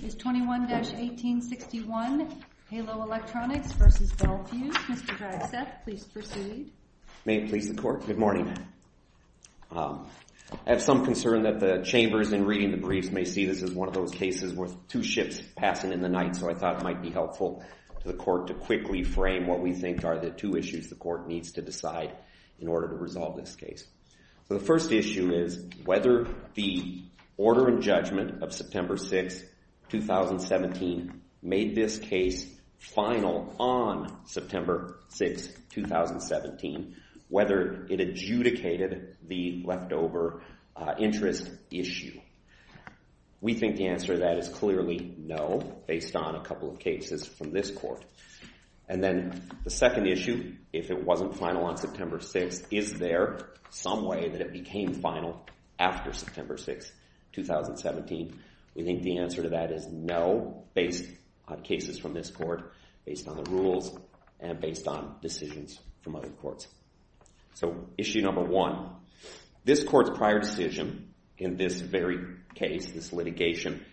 21-1861, Halo Electronics v. Bel Fuse. Mr. Draxeth, please proceed. May it please the Court, good morning. I have some concern that the chambers in reading the briefs may see this as one of those cases with two ships passing in the night, so I thought it might be helpful to the Court to quickly frame what we think are the two issues the Court needs to decide in order to resolve this case. The first issue is whether the order and judgment of September 6, 2017 made this case final on September 6, 2017, whether it adjudicated the leftover interest issue. We think the answer to that is clearly no, based on a couple of cases from this Court. And then the second issue, if it wasn't final on September 6, is there some way that it became final after September 6, 2017? We think the answer to that is no, based on cases from this Court, based on the rules, and based on decisions from other courts. So issue number one, this Court's prior decision in this very case, this litigation,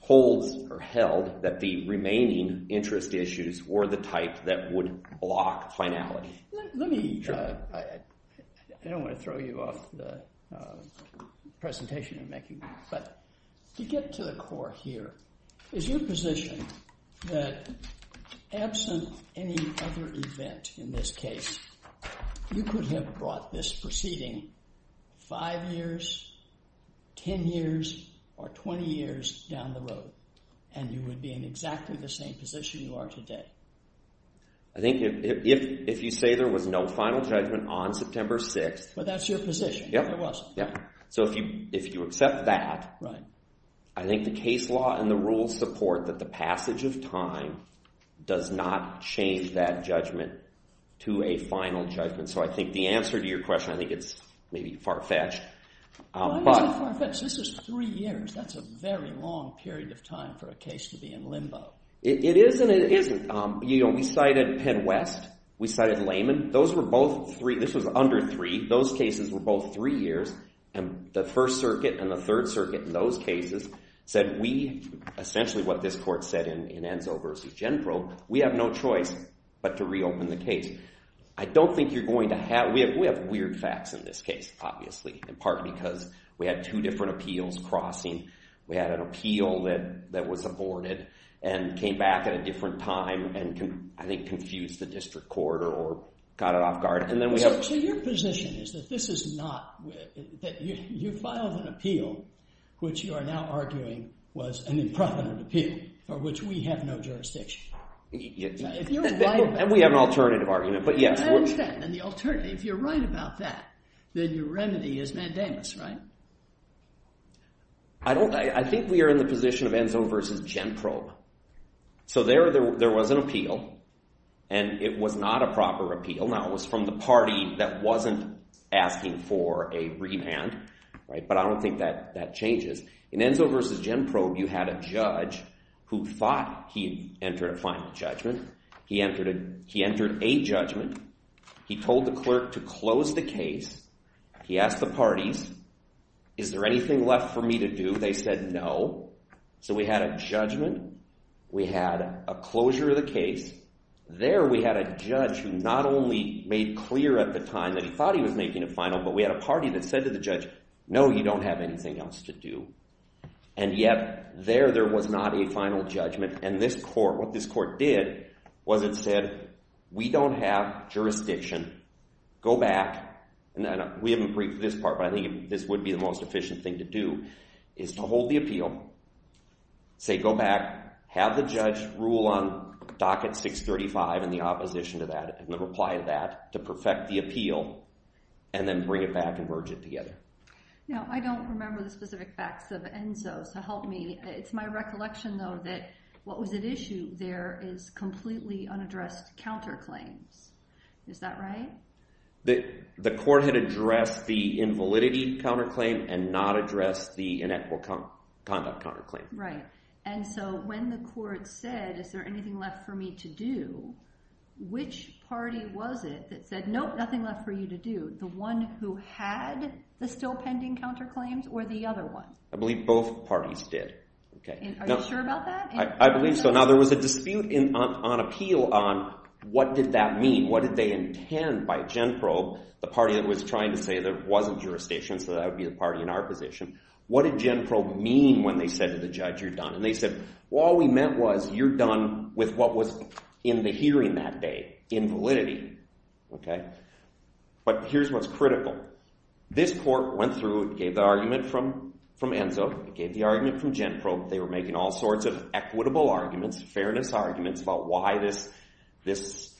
holds or held that the remaining interest issues were the type that would block finality. Let me, I don't want to throw you off the presentation I'm making, but to get to the Court here, is your position that absent any other event in this case, you could have brought this proceeding 5 years, 10 years, or 20 years down the road, and you would be in exactly the same position you are today? I think if you say there was no final judgment on September 6... But that's your position, there wasn't. So if you accept that, I think the case law and the rules support that the passage of I think it's maybe far-fetched. Why is it far-fetched? This is 3 years, that's a very long period of time for a case to be in limbo. It is and it isn't. You know, we cited Penn West, we cited Layman, those were both 3, this was under 3, those cases were both 3 years, and the 1st Circuit and the 3rd Circuit in those cases said we, essentially what this Court said in Enzo v. Genprobe, we have no choice but to reopen the case. I don't think you're going to have... We have weird facts in this case, obviously, in part because we had 2 different appeals crossing, we had an appeal that was aborted, and came back at a different time, and I think confused the district court or got it off guard. So your position is that this is not... You filed an appeal, which you are now arguing was an impreventive appeal, for which we have no jurisdiction. If you're right about that... And we have an alternative argument, but yes... I understand, and the alternative, if you're right about that, then your remedy is mandamus, right? I think we are in the position of Enzo v. Genprobe. So there was an appeal, and it was not a proper appeal, now it was from the party that wasn't asking for a remand, but I don't think that changes. In Enzo v. Genprobe, you had a judge who thought he'd enter a final judgment. He entered a judgment. He told the clerk to close the case. He asked the parties, is there anything left for me to do? They said no. So we had a judgment, we had a closure of the case, there we had a judge who not only made clear at the time that he thought he was making a final, but we had a party that said to the judge, no, you don't have anything else to do. And yet, there, there was not a final judgment, and this court, what this court did, was it said, we don't have jurisdiction, go back, and we haven't briefed this part, but I think this would be the most efficient thing to do, is to hold the appeal, say, go back, have the judge rule on docket 635 and the opposition to that, and the reply to that, to perfect the appeal, and then bring it back and merge it together. Now, I don't remember the specific facts of Enzo, so help me. It's my recollection, though, that what was at issue there is completely unaddressed counterclaims. Is that right? The court had addressed the invalidity counterclaim and not addressed the inequitable conduct counterclaim. Right. And so when the court said, is there anything left for me to do, which party was it that said, nope, nothing left for you to do? The one who had the still pending counterclaims or the other one? I believe both parties did. Are you sure about that? I believe so. Now, there was a dispute on appeal on what did that mean, what did they intend by Genprobe, the party that was trying to say there wasn't jurisdiction, so that would be the party in our position. What did Genprobe mean when they said to the judge, you're done? And they said, well, all we meant was, you're done with what was in the hearing that day, invalidity. But here's what's critical. This court went through and gave the argument from Enzo, gave the argument from Genprobe. They were making all sorts of equitable arguments, fairness arguments about why this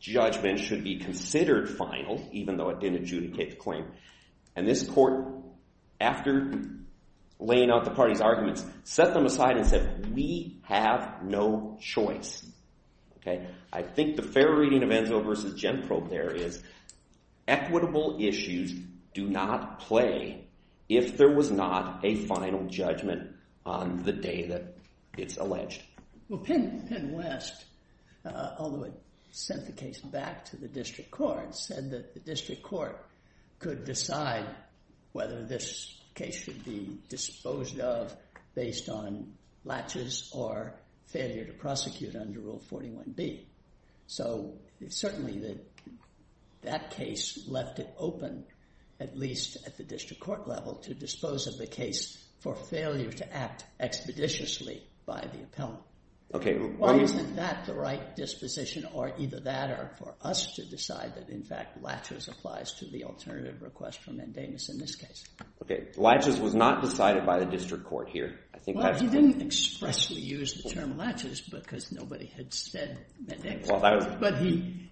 judgment should be considered final, even though it didn't adjudicate the claim. And this court, after laying out the party's arguments, set them aside and said, we have no choice. I think the fair reading of Enzo versus Genprobe there is equitable issues do not play if there was not a final judgment on the day that it's alleged. Well, Penn West, although it sent the case back to the district court, said that the district court could decide whether this case should be disposed of based on latches or failure to prosecute under Rule 41B. So certainly that case left it open, at least at the district court level, to dispose of the case for failure to act expeditiously by the appellant. Why isn't that the right disposition or either that or for us to decide that, in fact, latches applies to the alternative request for mandamus in this case? Okay, latches was not decided by the district court here. Well, he didn't expressly use the term latches because nobody had said that, but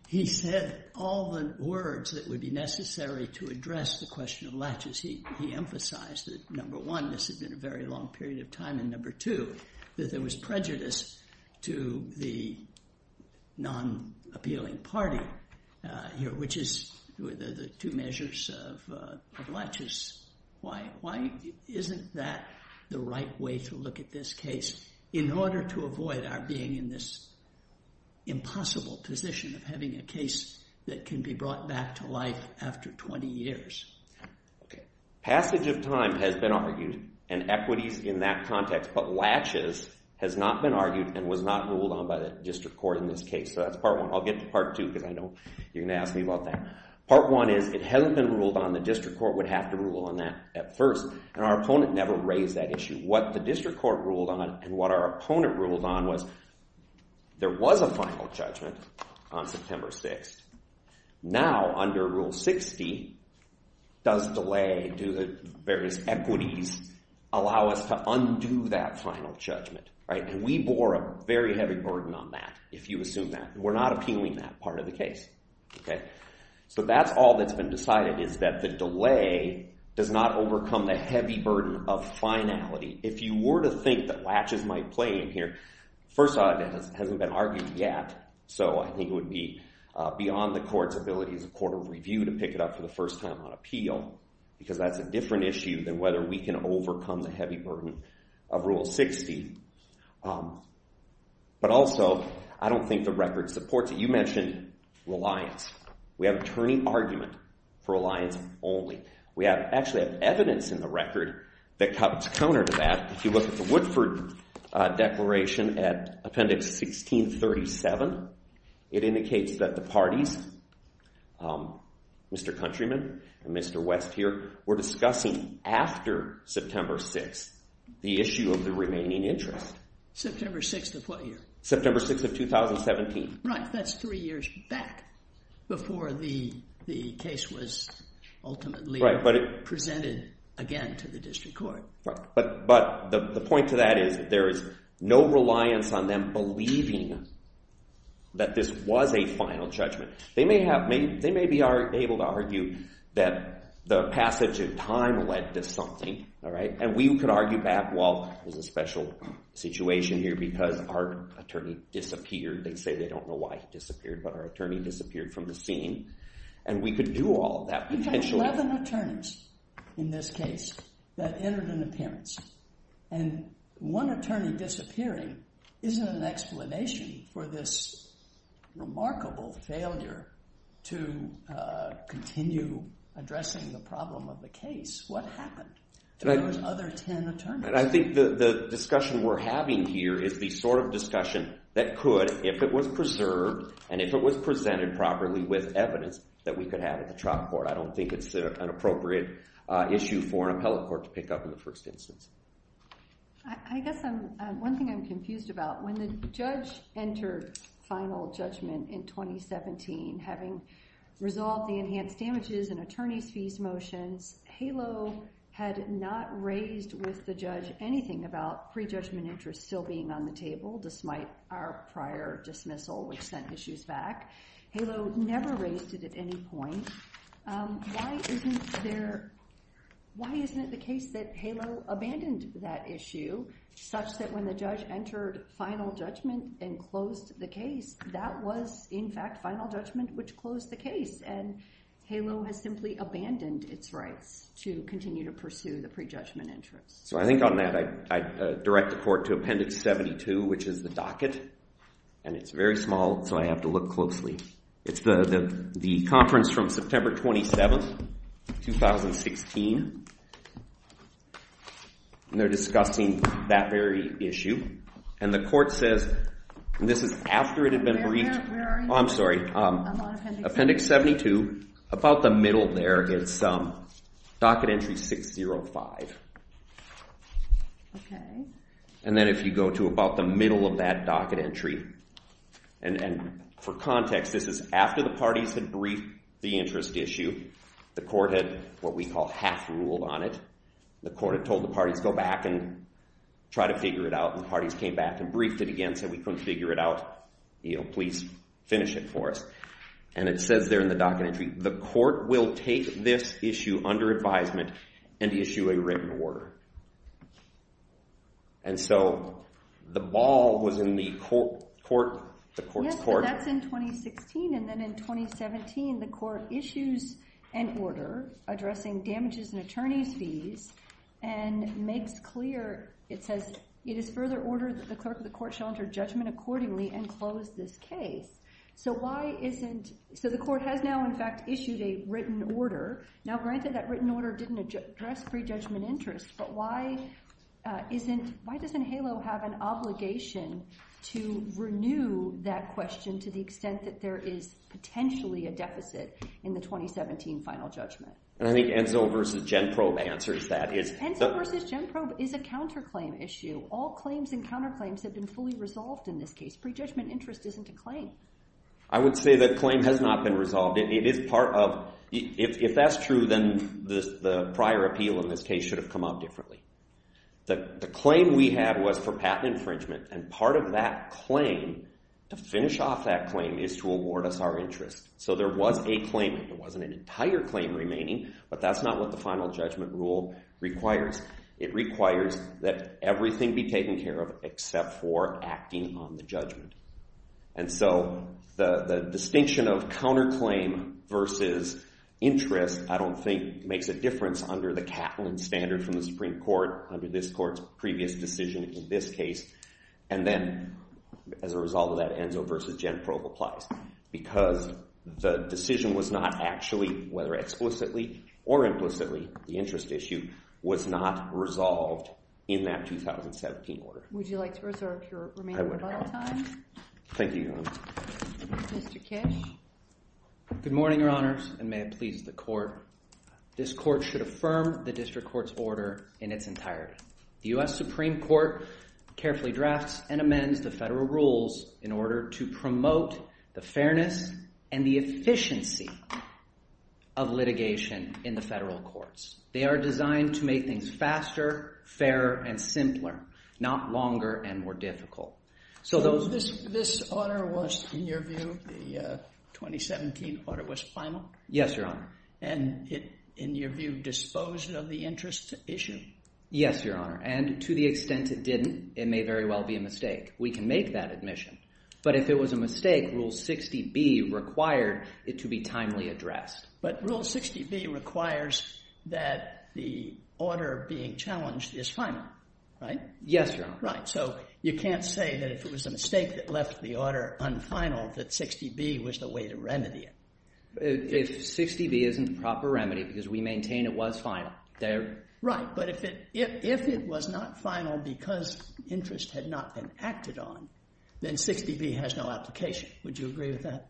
he said all the words that would be necessary to address the question of latches. He emphasized that, number one, this had been a very long period of time, and number two, that there was prejudice to the non-appealing party here, which is the two measures of latches. Why isn't that the right way to look at this case in order to avoid our being in this impossible position of having a case that can be brought back to life after 20 years? Passage of time has been argued and equities in that context, but latches has not been argued and was not ruled on by the district court in this case. So that's part one. I'll get to part two because I know you're going to ask me about that. Part one is it hasn't been ruled on. The district court would have to rule on that at first, and our opponent never raised that issue. What the district court ruled on and what our opponent ruled on was there was a final judgment on September 6th. Now, under Rule 60, does delay due to various equities allow us to undo that final judgment? And we bore a very heavy burden on that, if you assume that. We're not appealing that part of the case. So that's all that's been decided is that the delay does not overcome the heavy burden of finality. If you were to think that latches might play in here, first of all, it hasn't been argued yet. So I think it would be beyond the court's ability as a court of review to pick it up for the first time on appeal, because that's a different issue than whether we can overcome the heavy burden of Rule 60. But also, I don't think the record supports it. You mentioned reliance. We have a turning argument for reliance only. We actually have evidence in the record that comes counter to that. If you look at the Woodford Declaration at Appendix 1637, it indicates that the parties, Mr. Countryman and Mr. West here, were discussing after September 6th the issue of the remaining interest. September 6th of what year? September 6th of 2017. Right. That's three years back before the case was ultimately presented again to the district court. Right. But the point to that is there is no reliance on them believing that this was a final judgment. They may be able to argue that the passage of time led to something, all right? And we could argue back, well, there's a special situation here because our attorney disappeared. They say they don't know why he disappeared, but our attorney disappeared from the scene. And we could do all that potentially. You had 11 attorneys in this case that entered an appearance. And one attorney disappearing isn't an explanation for this remarkable failure to continue addressing the problem of the case. What happened to those other 10 attorneys? I think the discussion we're having here is the sort of discussion that could if it was preserved and if it was presented properly with evidence that we could have at the trial court. I don't think it's an appropriate issue for an appellate court to pick up in the first instance. I guess one thing I'm confused about, when the judge entered final judgment in 2017, having resolved the enhanced damages and attorney's fees motions, HALO had not raised with the judge anything about pre-judgment interest still being on the table, despite our prior dismissal, which sent issues back. HALO never raised it at any point. Why isn't it the case that HALO abandoned that issue, such that when the judge entered final judgment and closed the case, that was, in fact, final judgment which closed the case? HALO has simply abandoned its rights to continue to pursue the pre-judgment interest. So I think on that, I direct the court to Appendix 72, which is the docket. It's very small, so I have to look closely. It's the conference from September 27, 2016. They're discussing that very issue. The court says, and this is after it had been briefed. Where are you? Oh, I'm sorry. Appendix 72, about the middle there, it's docket entry 605. And then if you go to about the middle of that docket entry, and for context, this is after the parties had briefed the interest issue. The court had what we call half-ruled on it. The court had told the parties go back and try to figure it out, and the parties came back and briefed it again, said we couldn't figure it out. Please finish it for us. And it says there in the docket entry, the court will take this issue under advisement and issue a written order. And so the ball was in the court's court. Yes, but that's in 2016. And then in 2017, the court issues an order addressing damages and attorney's fees and makes clear, it says, it is further ordered that the clerk of the court shall enter judgment accordingly and close this case. So the court has now, in fact, issued a written order. Now, granted, that written order didn't address pre-judgment interest, but why doesn't HALO have an obligation to renew that question to the extent that there is potentially a deficit in the 2017 final judgment? And I think Enzo versus GenProbe answers that. Enzo versus GenProbe is a counterclaim issue. All claims and counterclaims have been fully resolved in this case. Pre-judgment interest isn't a claim. I would say that claim has not been resolved. It is part of, if that's true, then the prior appeal in this case should have come out differently. The claim we had was for patent infringement, and part of that claim, to finish off that claim, is to award us our interest. So there was a claimant. There wasn't an entire claim remaining, but that's not what the final judgment rule requires. It requires that everything be taken care of, except for acting on the judgment. And so the distinction of counterclaim versus interest, I don't think, makes a difference under the Catlin standard from the Supreme Court, under this court's previous decision in this case. And then, as a result of that, Enzo versus GenProbe applies, because the decision was not actually, whether explicitly or implicitly, the interest issue was not resolved in that 2017 order. Would you like to reserve your remaining rebuttal time? Thank you, Your Honor. Mr. Kish? Good morning, Your Honors, and may it please the court. This court should affirm the district court's order in its entirety. The U.S. Supreme Court carefully drafts and amends the federal rules in order to promote the fairness and the efficiency of litigation in the federal courts. They are designed to make things faster, fairer, and simpler, not longer and more difficult. So this order was, in your view, the 2017 order was final? Yes, Your Honor. And it, in your view, disposed of the interest issue? Yes, Your Honor, and to the extent it didn't, it may very well be a mistake. We can make that admission. But if it was a mistake, Rule 60B required it to be timely addressed. But Rule 60B requires that the order being challenged is final, right? Yes, Your Honor. Right. So you can't say that if it was a mistake that left the order unfinal, that 60B was the way to remedy it. If 60B isn't the proper remedy, because we maintain it was final, there... Right, but if it was not final because interest had not been acted on, then 60B has no application. Would you agree with that?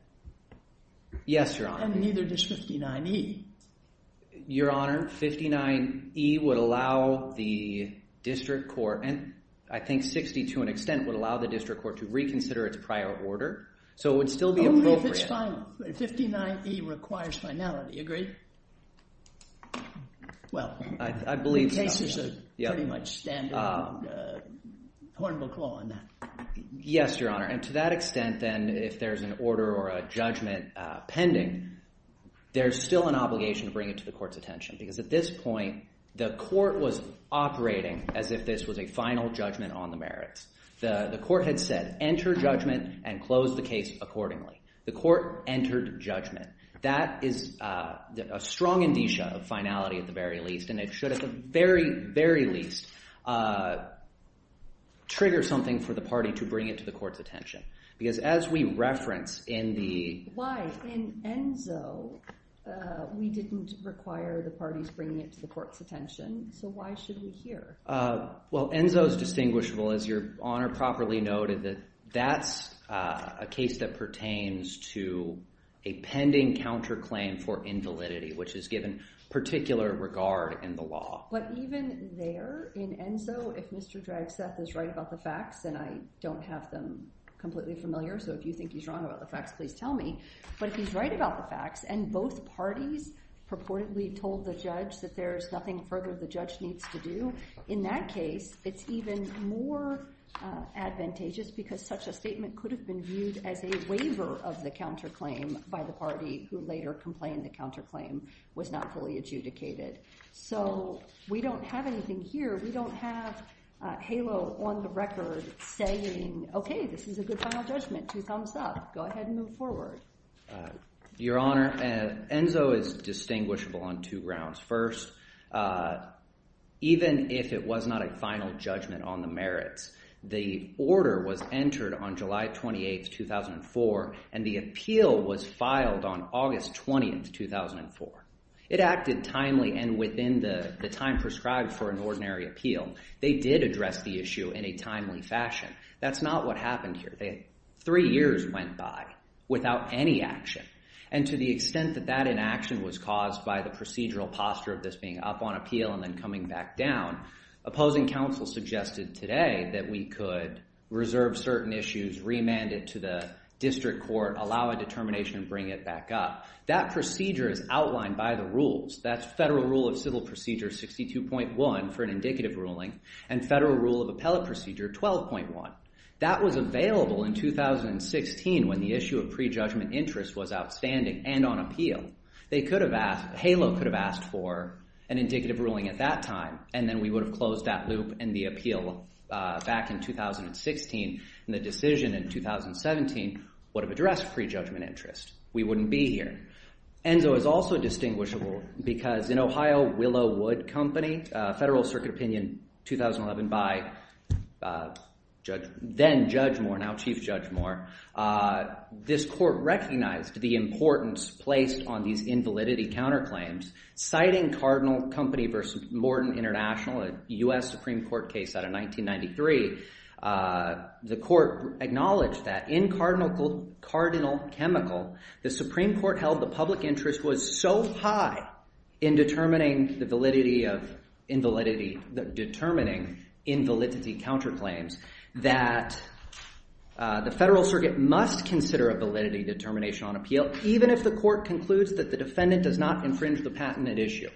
Yes, Your Honor. And neither does 59E. Your Honor, 59E would allow the district court, and I think 60 to an extent would allow the district court to reconsider its prior order. So it would still be appropriate... Only if it's final. 59E requires finality, agree? Well, the case is pretty much standard, and Horn will call on that. Yes, Your Honor. And to that extent, then, if there's an order or a judgment pending, there's still an obligation to bring it to the court's attention. Because at this point, the court was operating as if this was a final judgment on the merits. The court had said, enter judgment and close the case accordingly. The court entered judgment. That is a strong indicia of finality, at the very least. And it should, at the very, very least, trigger something for the party to bring it to the court's attention. Because as we reference in the... Why? In ENZO, we didn't require the parties bringing it to the court's attention. So why should we here? Well, ENZO's distinguishable, as Your Honor properly noted, that's a case that pertains to a pending counterclaim for invalidity, which is given particular regard in the law. But even there, in ENZO, if Mr. Dragseth is right about the facts, and I don't have them completely familiar, so if you think he's wrong about the facts, please tell me. But if he's right about the facts, and both parties purportedly told the judge that there's nothing further the judge needs to do, in that case, it's even more advantageous because such a statement could have been viewed as a waiver of the counterclaim by the party who later complained the counterclaim was not fully adjudicated. So we don't have anything here. We don't have HALO on the record saying, OK, this is a good final judgment. Two thumbs up. Go ahead and move forward. Your Honor, ENZO is distinguishable on two grounds. First, even if it was not a final judgment on the merits, the order was entered on July 28, 2004, and the appeal was filed on August 20, 2004. It acted timely and within the time prescribed for an ordinary appeal. They did address the issue in a timely fashion. That's not what happened here. Three years went by without any action. And to the extent that that inaction was caused by the procedural posture of this being up on appeal and then coming back down, opposing counsel suggested today that we could reserve certain issues, remand it to the district court, allow a determination, and bring it back up. That procedure is outlined by the rules. That's Federal Rule of Civil Procedure 62.1 for an indicative ruling and Federal Rule of Appellate Procedure 12.1. That was available in 2016 when the issue of pre-judgment interest was outstanding and on appeal. HALO could have asked for an indicative ruling at that time, and then we would have closed that loop and the appeal back in 2016. And the decision in 2017 would have addressed pre-judgment interest. We wouldn't be here. ENZO is also distinguishable because in Ohio, Willow Wood Company, Federal Circuit Opinion 2011 by then Judge Moore, now Chief Judge Moore, this court recognized the importance placed on these invalidity counterclaims. Citing Cardinal Company v. Morton International, a U.S. Supreme Court case out of 1993, the court acknowledged that in Cardinal Chemical, the Supreme Court held the public interest was so high in determining the validity of invalidity, determining invalidity counterclaims, that the Federal Circuit must consider a validity determination on appeal even if the court concludes that the defendant does not infringe the patent at issue.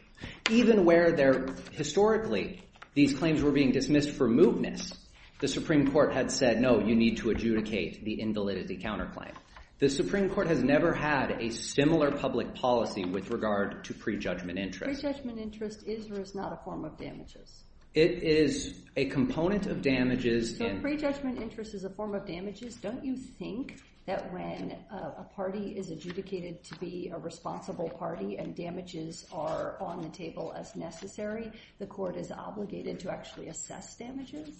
Even where there, historically, these claims were being dismissed for moveness, the Supreme Court had said, no, you need to adjudicate the invalidity counterclaim. The Supreme Court has never had a similar public policy with regard to pre-judgment interest. Pre-judgment interest is or is not a form of damages? It is a component of damages. So pre-judgment interest is a form of damages? Don't you think that when a party is adjudicated to be a responsible party and damages are on the table as necessary, the court is obligated to actually assess damages?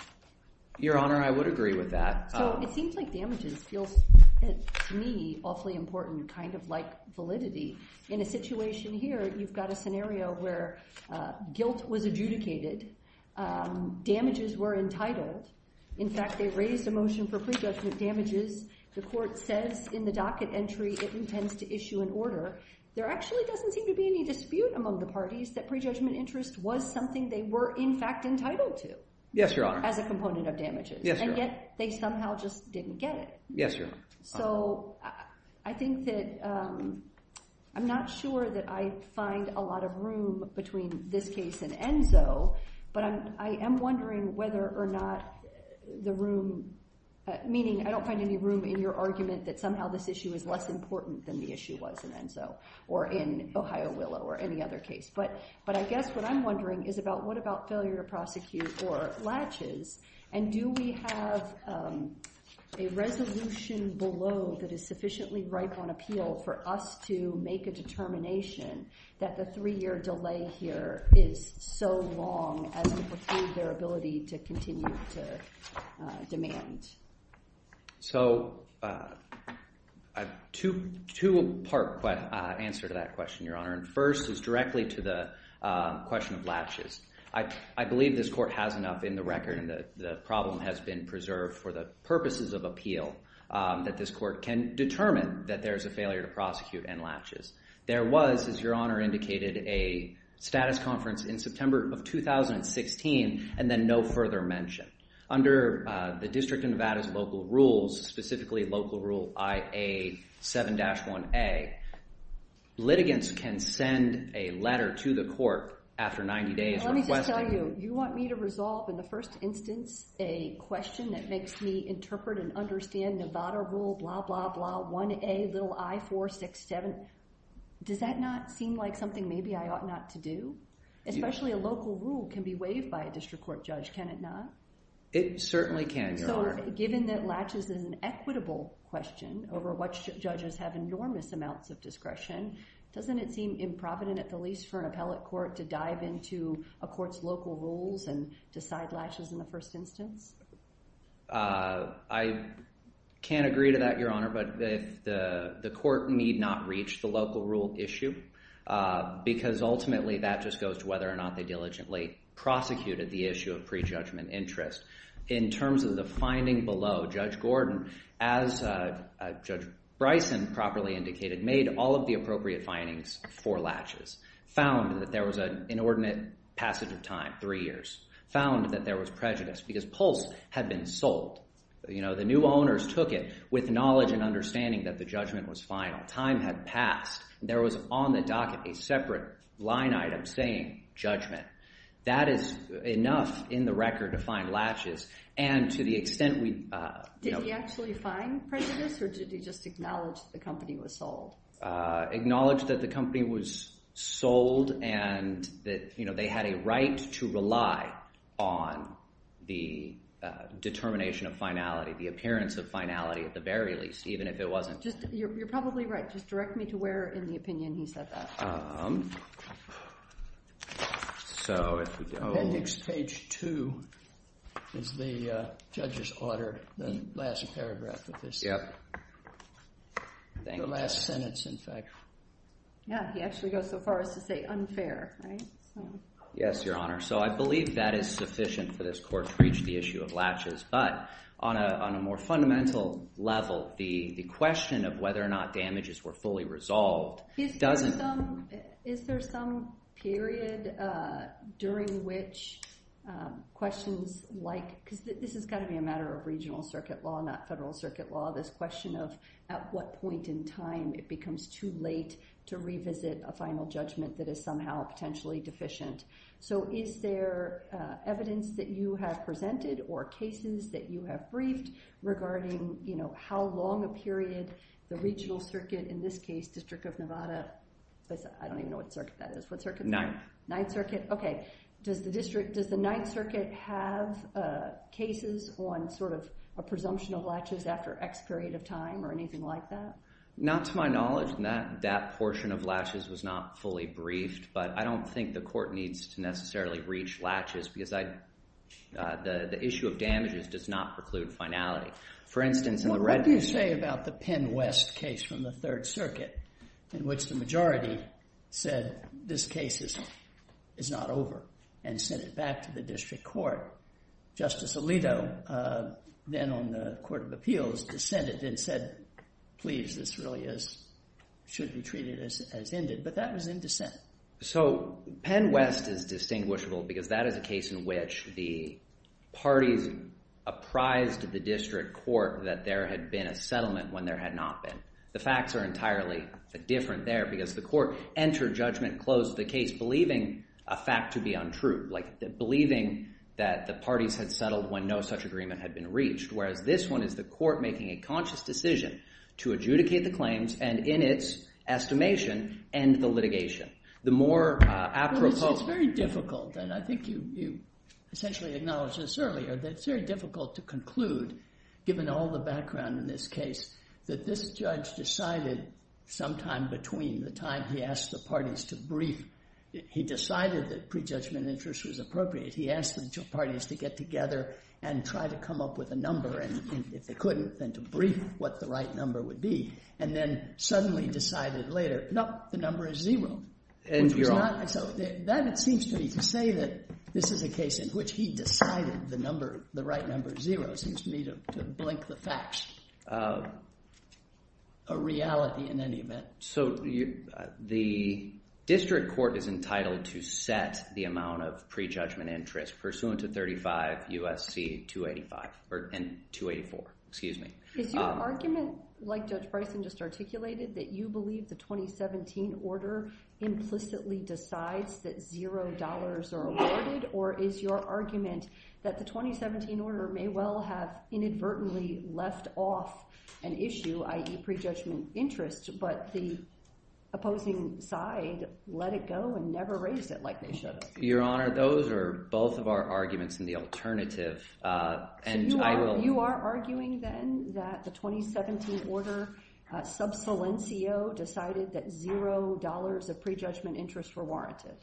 Your Honor, I would agree with that. So it seems like damages feels, to me, awfully important, kind of like validity. In a situation here, you've got a scenario where guilt was adjudicated, damages were entitled. In fact, they raised a motion for pre-judgment damages. The court says in the docket entry it intends to issue an order. There actually doesn't seem to be any dispute among the parties that pre-judgment interest was something they were, in fact, entitled to. Yes, Your Honor. As a component of damages. Yes, Your Honor. They somehow just didn't get it. Yes, Your Honor. So I think that I'm not sure that I find a lot of room between this case and Enzo, but I am wondering whether or not the room, meaning I don't find any room in your argument that somehow this issue is less important than the issue was in Enzo or in Ohio Willow or any other case. But I guess what I'm wondering is about what about failure to prosecute or latches and do we have a resolution below that is sufficiently ripe on appeal for us to make a determination that the three-year delay here is so long as to pursue their ability to continue to demand. So I have two part answer to that question, Your Honor. And first is directly to the question of latches. I believe this court has enough in the record and the problem has been preserved for the purposes of appeal that this court can determine that there's a failure to prosecute and latches. There was, as Your Honor indicated, a status conference in September of 2016 and then no further mention. Under the District of Nevada's local rules, specifically Local Rule IA 7-1A, litigants can send a letter to the court after 90 days. You want me to resolve in the first instance a question that makes me interpret and understand Nevada rule blah, blah, blah, 1A little I-467. Does that not seem like something maybe I ought not to do? Especially a local rule can be waived by a district court judge. Can it not? It certainly can, Your Honor. Given that latches is an equitable question over which judges have enormous amounts of discretion, doesn't it seem improvident at the least for an appellate court to dive into a court's local rules and decide latches in the first instance? I can't agree to that, Your Honor, but the court need not reach the local rule issue because ultimately that just goes to whether or not they diligently prosecuted the issue of prejudgment interest. In terms of the finding below, Judge Gordon, as Judge Bryson properly indicated, made all of the appropriate findings for latches, found that there was an inordinate passage of time, three years, found that there was prejudice because Pulse had been sold. The new owners took it with knowledge and understanding that the judgment was final. Time had passed. There was on the docket a separate line item saying judgment. That is enough in the record to find latches, and to the extent we... Did he actually find prejudice or did he just acknowledge the company was sold? Acknowledge that the company was sold and that they had a right to rely on the determination of finality, the appearance of finality at the very least, even if it wasn't. Just you're probably right. Just direct me to where in the opinion he said that. So if we go... Appendix page two is the judge's order, the last paragraph of this. Yep. The last sentence, in fact. Yeah, he actually goes so far as to say unfair, right? Yes, Your Honor. So I believe that is sufficient for this court to reach the issue of latches, but on a more fundamental level, the question of whether or not damages were fully resolved doesn't... Is there some period during which questions like... Because this has got to be a matter of regional circuit law, not federal circuit law. This question of at what point in time it becomes too late to revisit a final judgment that is somehow potentially deficient. So is there evidence that you have presented or cases that you have briefed regarding how long a period the regional circuit, in this case, District of Nevada... I don't even know what circuit that is. What circuit is that? Ninth. Ninth Circuit. Okay. Does the district... Does the Ninth Circuit have cases on sort of a presumption of latches after X period of time or anything like that? Not to my knowledge. And that portion of latches was not fully briefed, but I don't think the court needs to necessarily reach latches because the issue of damages does not preclude finality. For instance, in the red... What do you say about the Penn West case from the Third Circuit in which the majority said this case is not over and sent it back to the district court? Justice Alito, then on the Court of Appeals, dissented and said, please, this really should be treated as ended. But that was in dissent. So Penn West is distinguishable because that is a case in which the parties apprised the district court that there had been a settlement when there had not been. The facts are entirely different there because the court entered judgment close to the case believing a fact to be untrue, believing that the parties had settled when no such agreement had been reached, whereas this one is the court making a conscious decision to adjudicate the claims and in its estimation, end the litigation. The more apropos... It's very difficult, and I think you essentially acknowledged this earlier, that it's very difficult to conclude, given all the background in this case, that this judge decided sometime between the time he asked the parties to brief, he decided that prejudgment interest was appropriate, he asked the parties to get together and try to come up with a number, and if they couldn't, then to brief what the right number would be, and then suddenly decided later, nope, the number is zero. And you're on. So that, it seems to me, to say that this is a case in which he decided the right number is zero seems to me to blink the facts, a reality in any event. So the district court is entitled to set the amount of prejudgment interest pursuant to 35 U.S.C. 285, or 284, excuse me. Is your argument, like Judge Bryson just articulated, that you believe the 2017 order implicitly decides that zero dollars are awarded, or is your argument that the 2017 order may well have inadvertently left off an issue, i.e. prejudgment interest, but the opposing side let it go and never raised it like they should have? Your Honor, those are both of our arguments in the alternative, and I will- So you are arguing, then, that the 2017 order, sub saliencio, decided that zero dollars of prejudgment interest were warranted?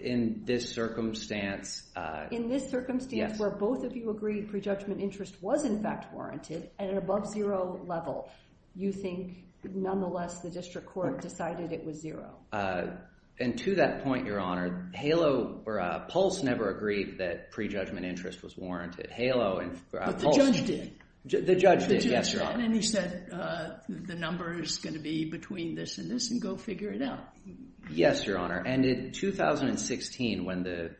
In this circumstance, yes. In this circumstance, where both of you agree prejudgment interest was, in fact, warranted, at an above zero level, you think, nonetheless, the district court decided it was zero? And to that point, Your Honor, HALO, or PULSE, never agreed that prejudgment interest was warranted. HALO and PULSE- But the judge did. The judge did, yes, Your Honor. And he said, the number is going to be between this and this, and go figure it out. Yes, Your Honor, and in 2016, when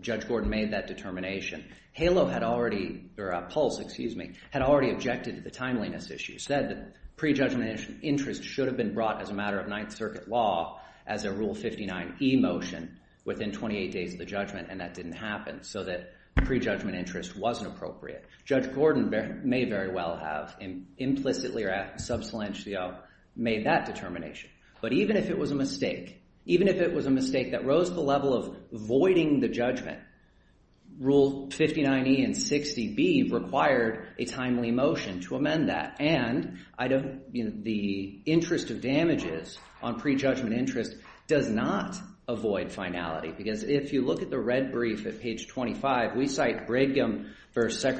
Judge Gordon made that determination, HALO had already, or PULSE, excuse me, had already objected to the timeliness issue, said that prejudgment interest should have been brought as a matter of Ninth Circuit law as a Rule 59e motion within 28 days of the judgment, and that didn't happen, so that prejudgment interest wasn't appropriate. Judge Gordon may very well have implicitly or at sub saliencio made that determination. But even if it was a mistake, even if it was a mistake that rose the level of voiding the judgment, Rule 59e and 60b required a timely motion to amend that. And the interest of damages on prejudgment interest does not avoid finality, because if you look at the red brief at page 25, we cite Brigham versus the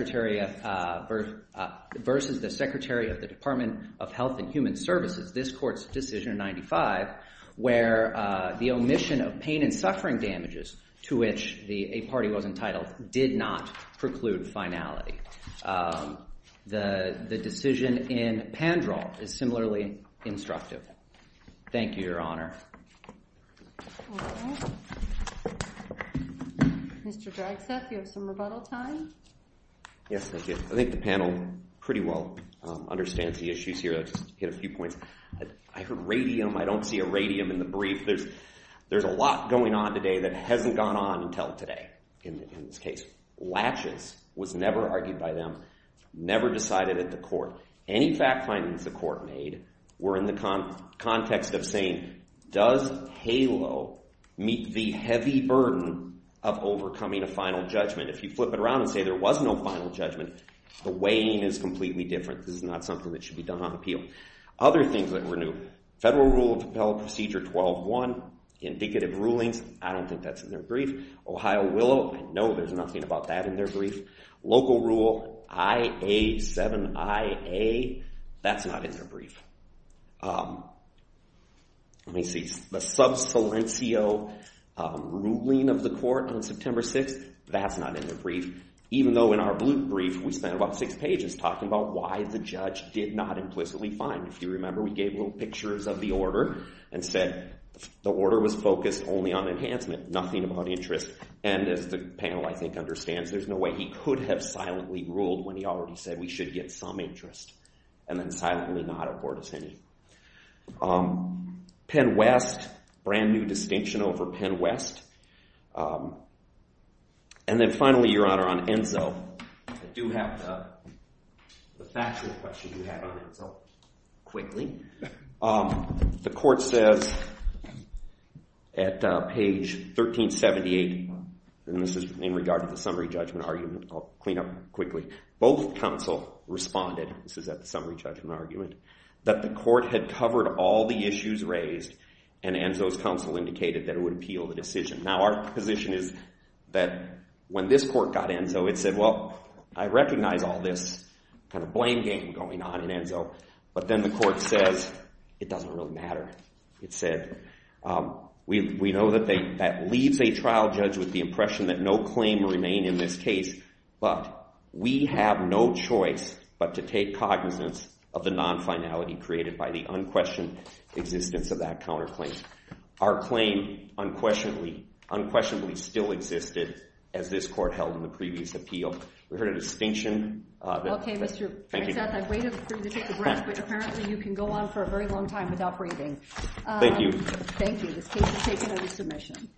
Secretary of the Department of Health and Human Services, this Court's decision in 95, where the omission of pain and suffering damages to which a party was entitled did not preclude finality. The decision in Pandrel is similarly instructive. Thank you, Your Honor. Mr. Dragstaff, you have some rebuttal time? Yes, thank you. I think the panel pretty well understands the issues here. I'll just hit a few points. I heard radium. I don't see a radium in the brief. There's a lot going on today that hasn't gone on until today in this case. Latches was never argued by them, never decided at the court. Any fact findings the court made were in the context of saying, does HALO meet the heavy burden of overcoming a final judgment? If you flip it around and say there was no final judgment, the weighing is completely different. This is not something that should be done on appeal. Other things that were new, Federal Rule of Procedure 12-1, indicative rulings, I don't think that's in their brief. Ohio Willow, I know there's nothing about that in their brief. Local Rule IA-7IA, that's not in their brief. Let me see. The sub silencio ruling of the court on September 6th, that's not in the brief. Even though in our blue brief, we spent about six pages talking about why the judge did not implicitly find. If you remember, we gave little pictures of the order and said the order was focused only on enhancement, nothing about interest. And as the panel, I think, understands, there's no way he could have silently ruled when he already said we should get some interest and then silently not afford us any. Penn West, brand new distinction over Penn West. And then finally, Your Honor, on Enzo, I do have the factual question you had on Enzo quickly. The court says at page 1378, and this is in regard to the summary judgment argument, I'll clean up quickly. Both counsel responded, this is at the summary judgment argument, that the court had covered all the issues raised and Enzo's counsel indicated that it would appeal the decision. Now our position is that when this court got Enzo, it said, well, I recognize all this kind of blame game going on in Enzo. But then the court says, it doesn't really matter. It said, we know that they, that leaves a trial judge with the impression that no claim will remain in this case. But we have no choice but to take cognizance of the non-finality created by the unquestioned existence of that counterclaim. Our claim unquestionably, unquestionably still existed as this court held in the previous appeal. We heard a distinction. Okay, Mr. Brancat, I waited for you to take a breath, but apparently you can go on for a very long time without breathing. Thank you. Thank you. This case is taken under submission.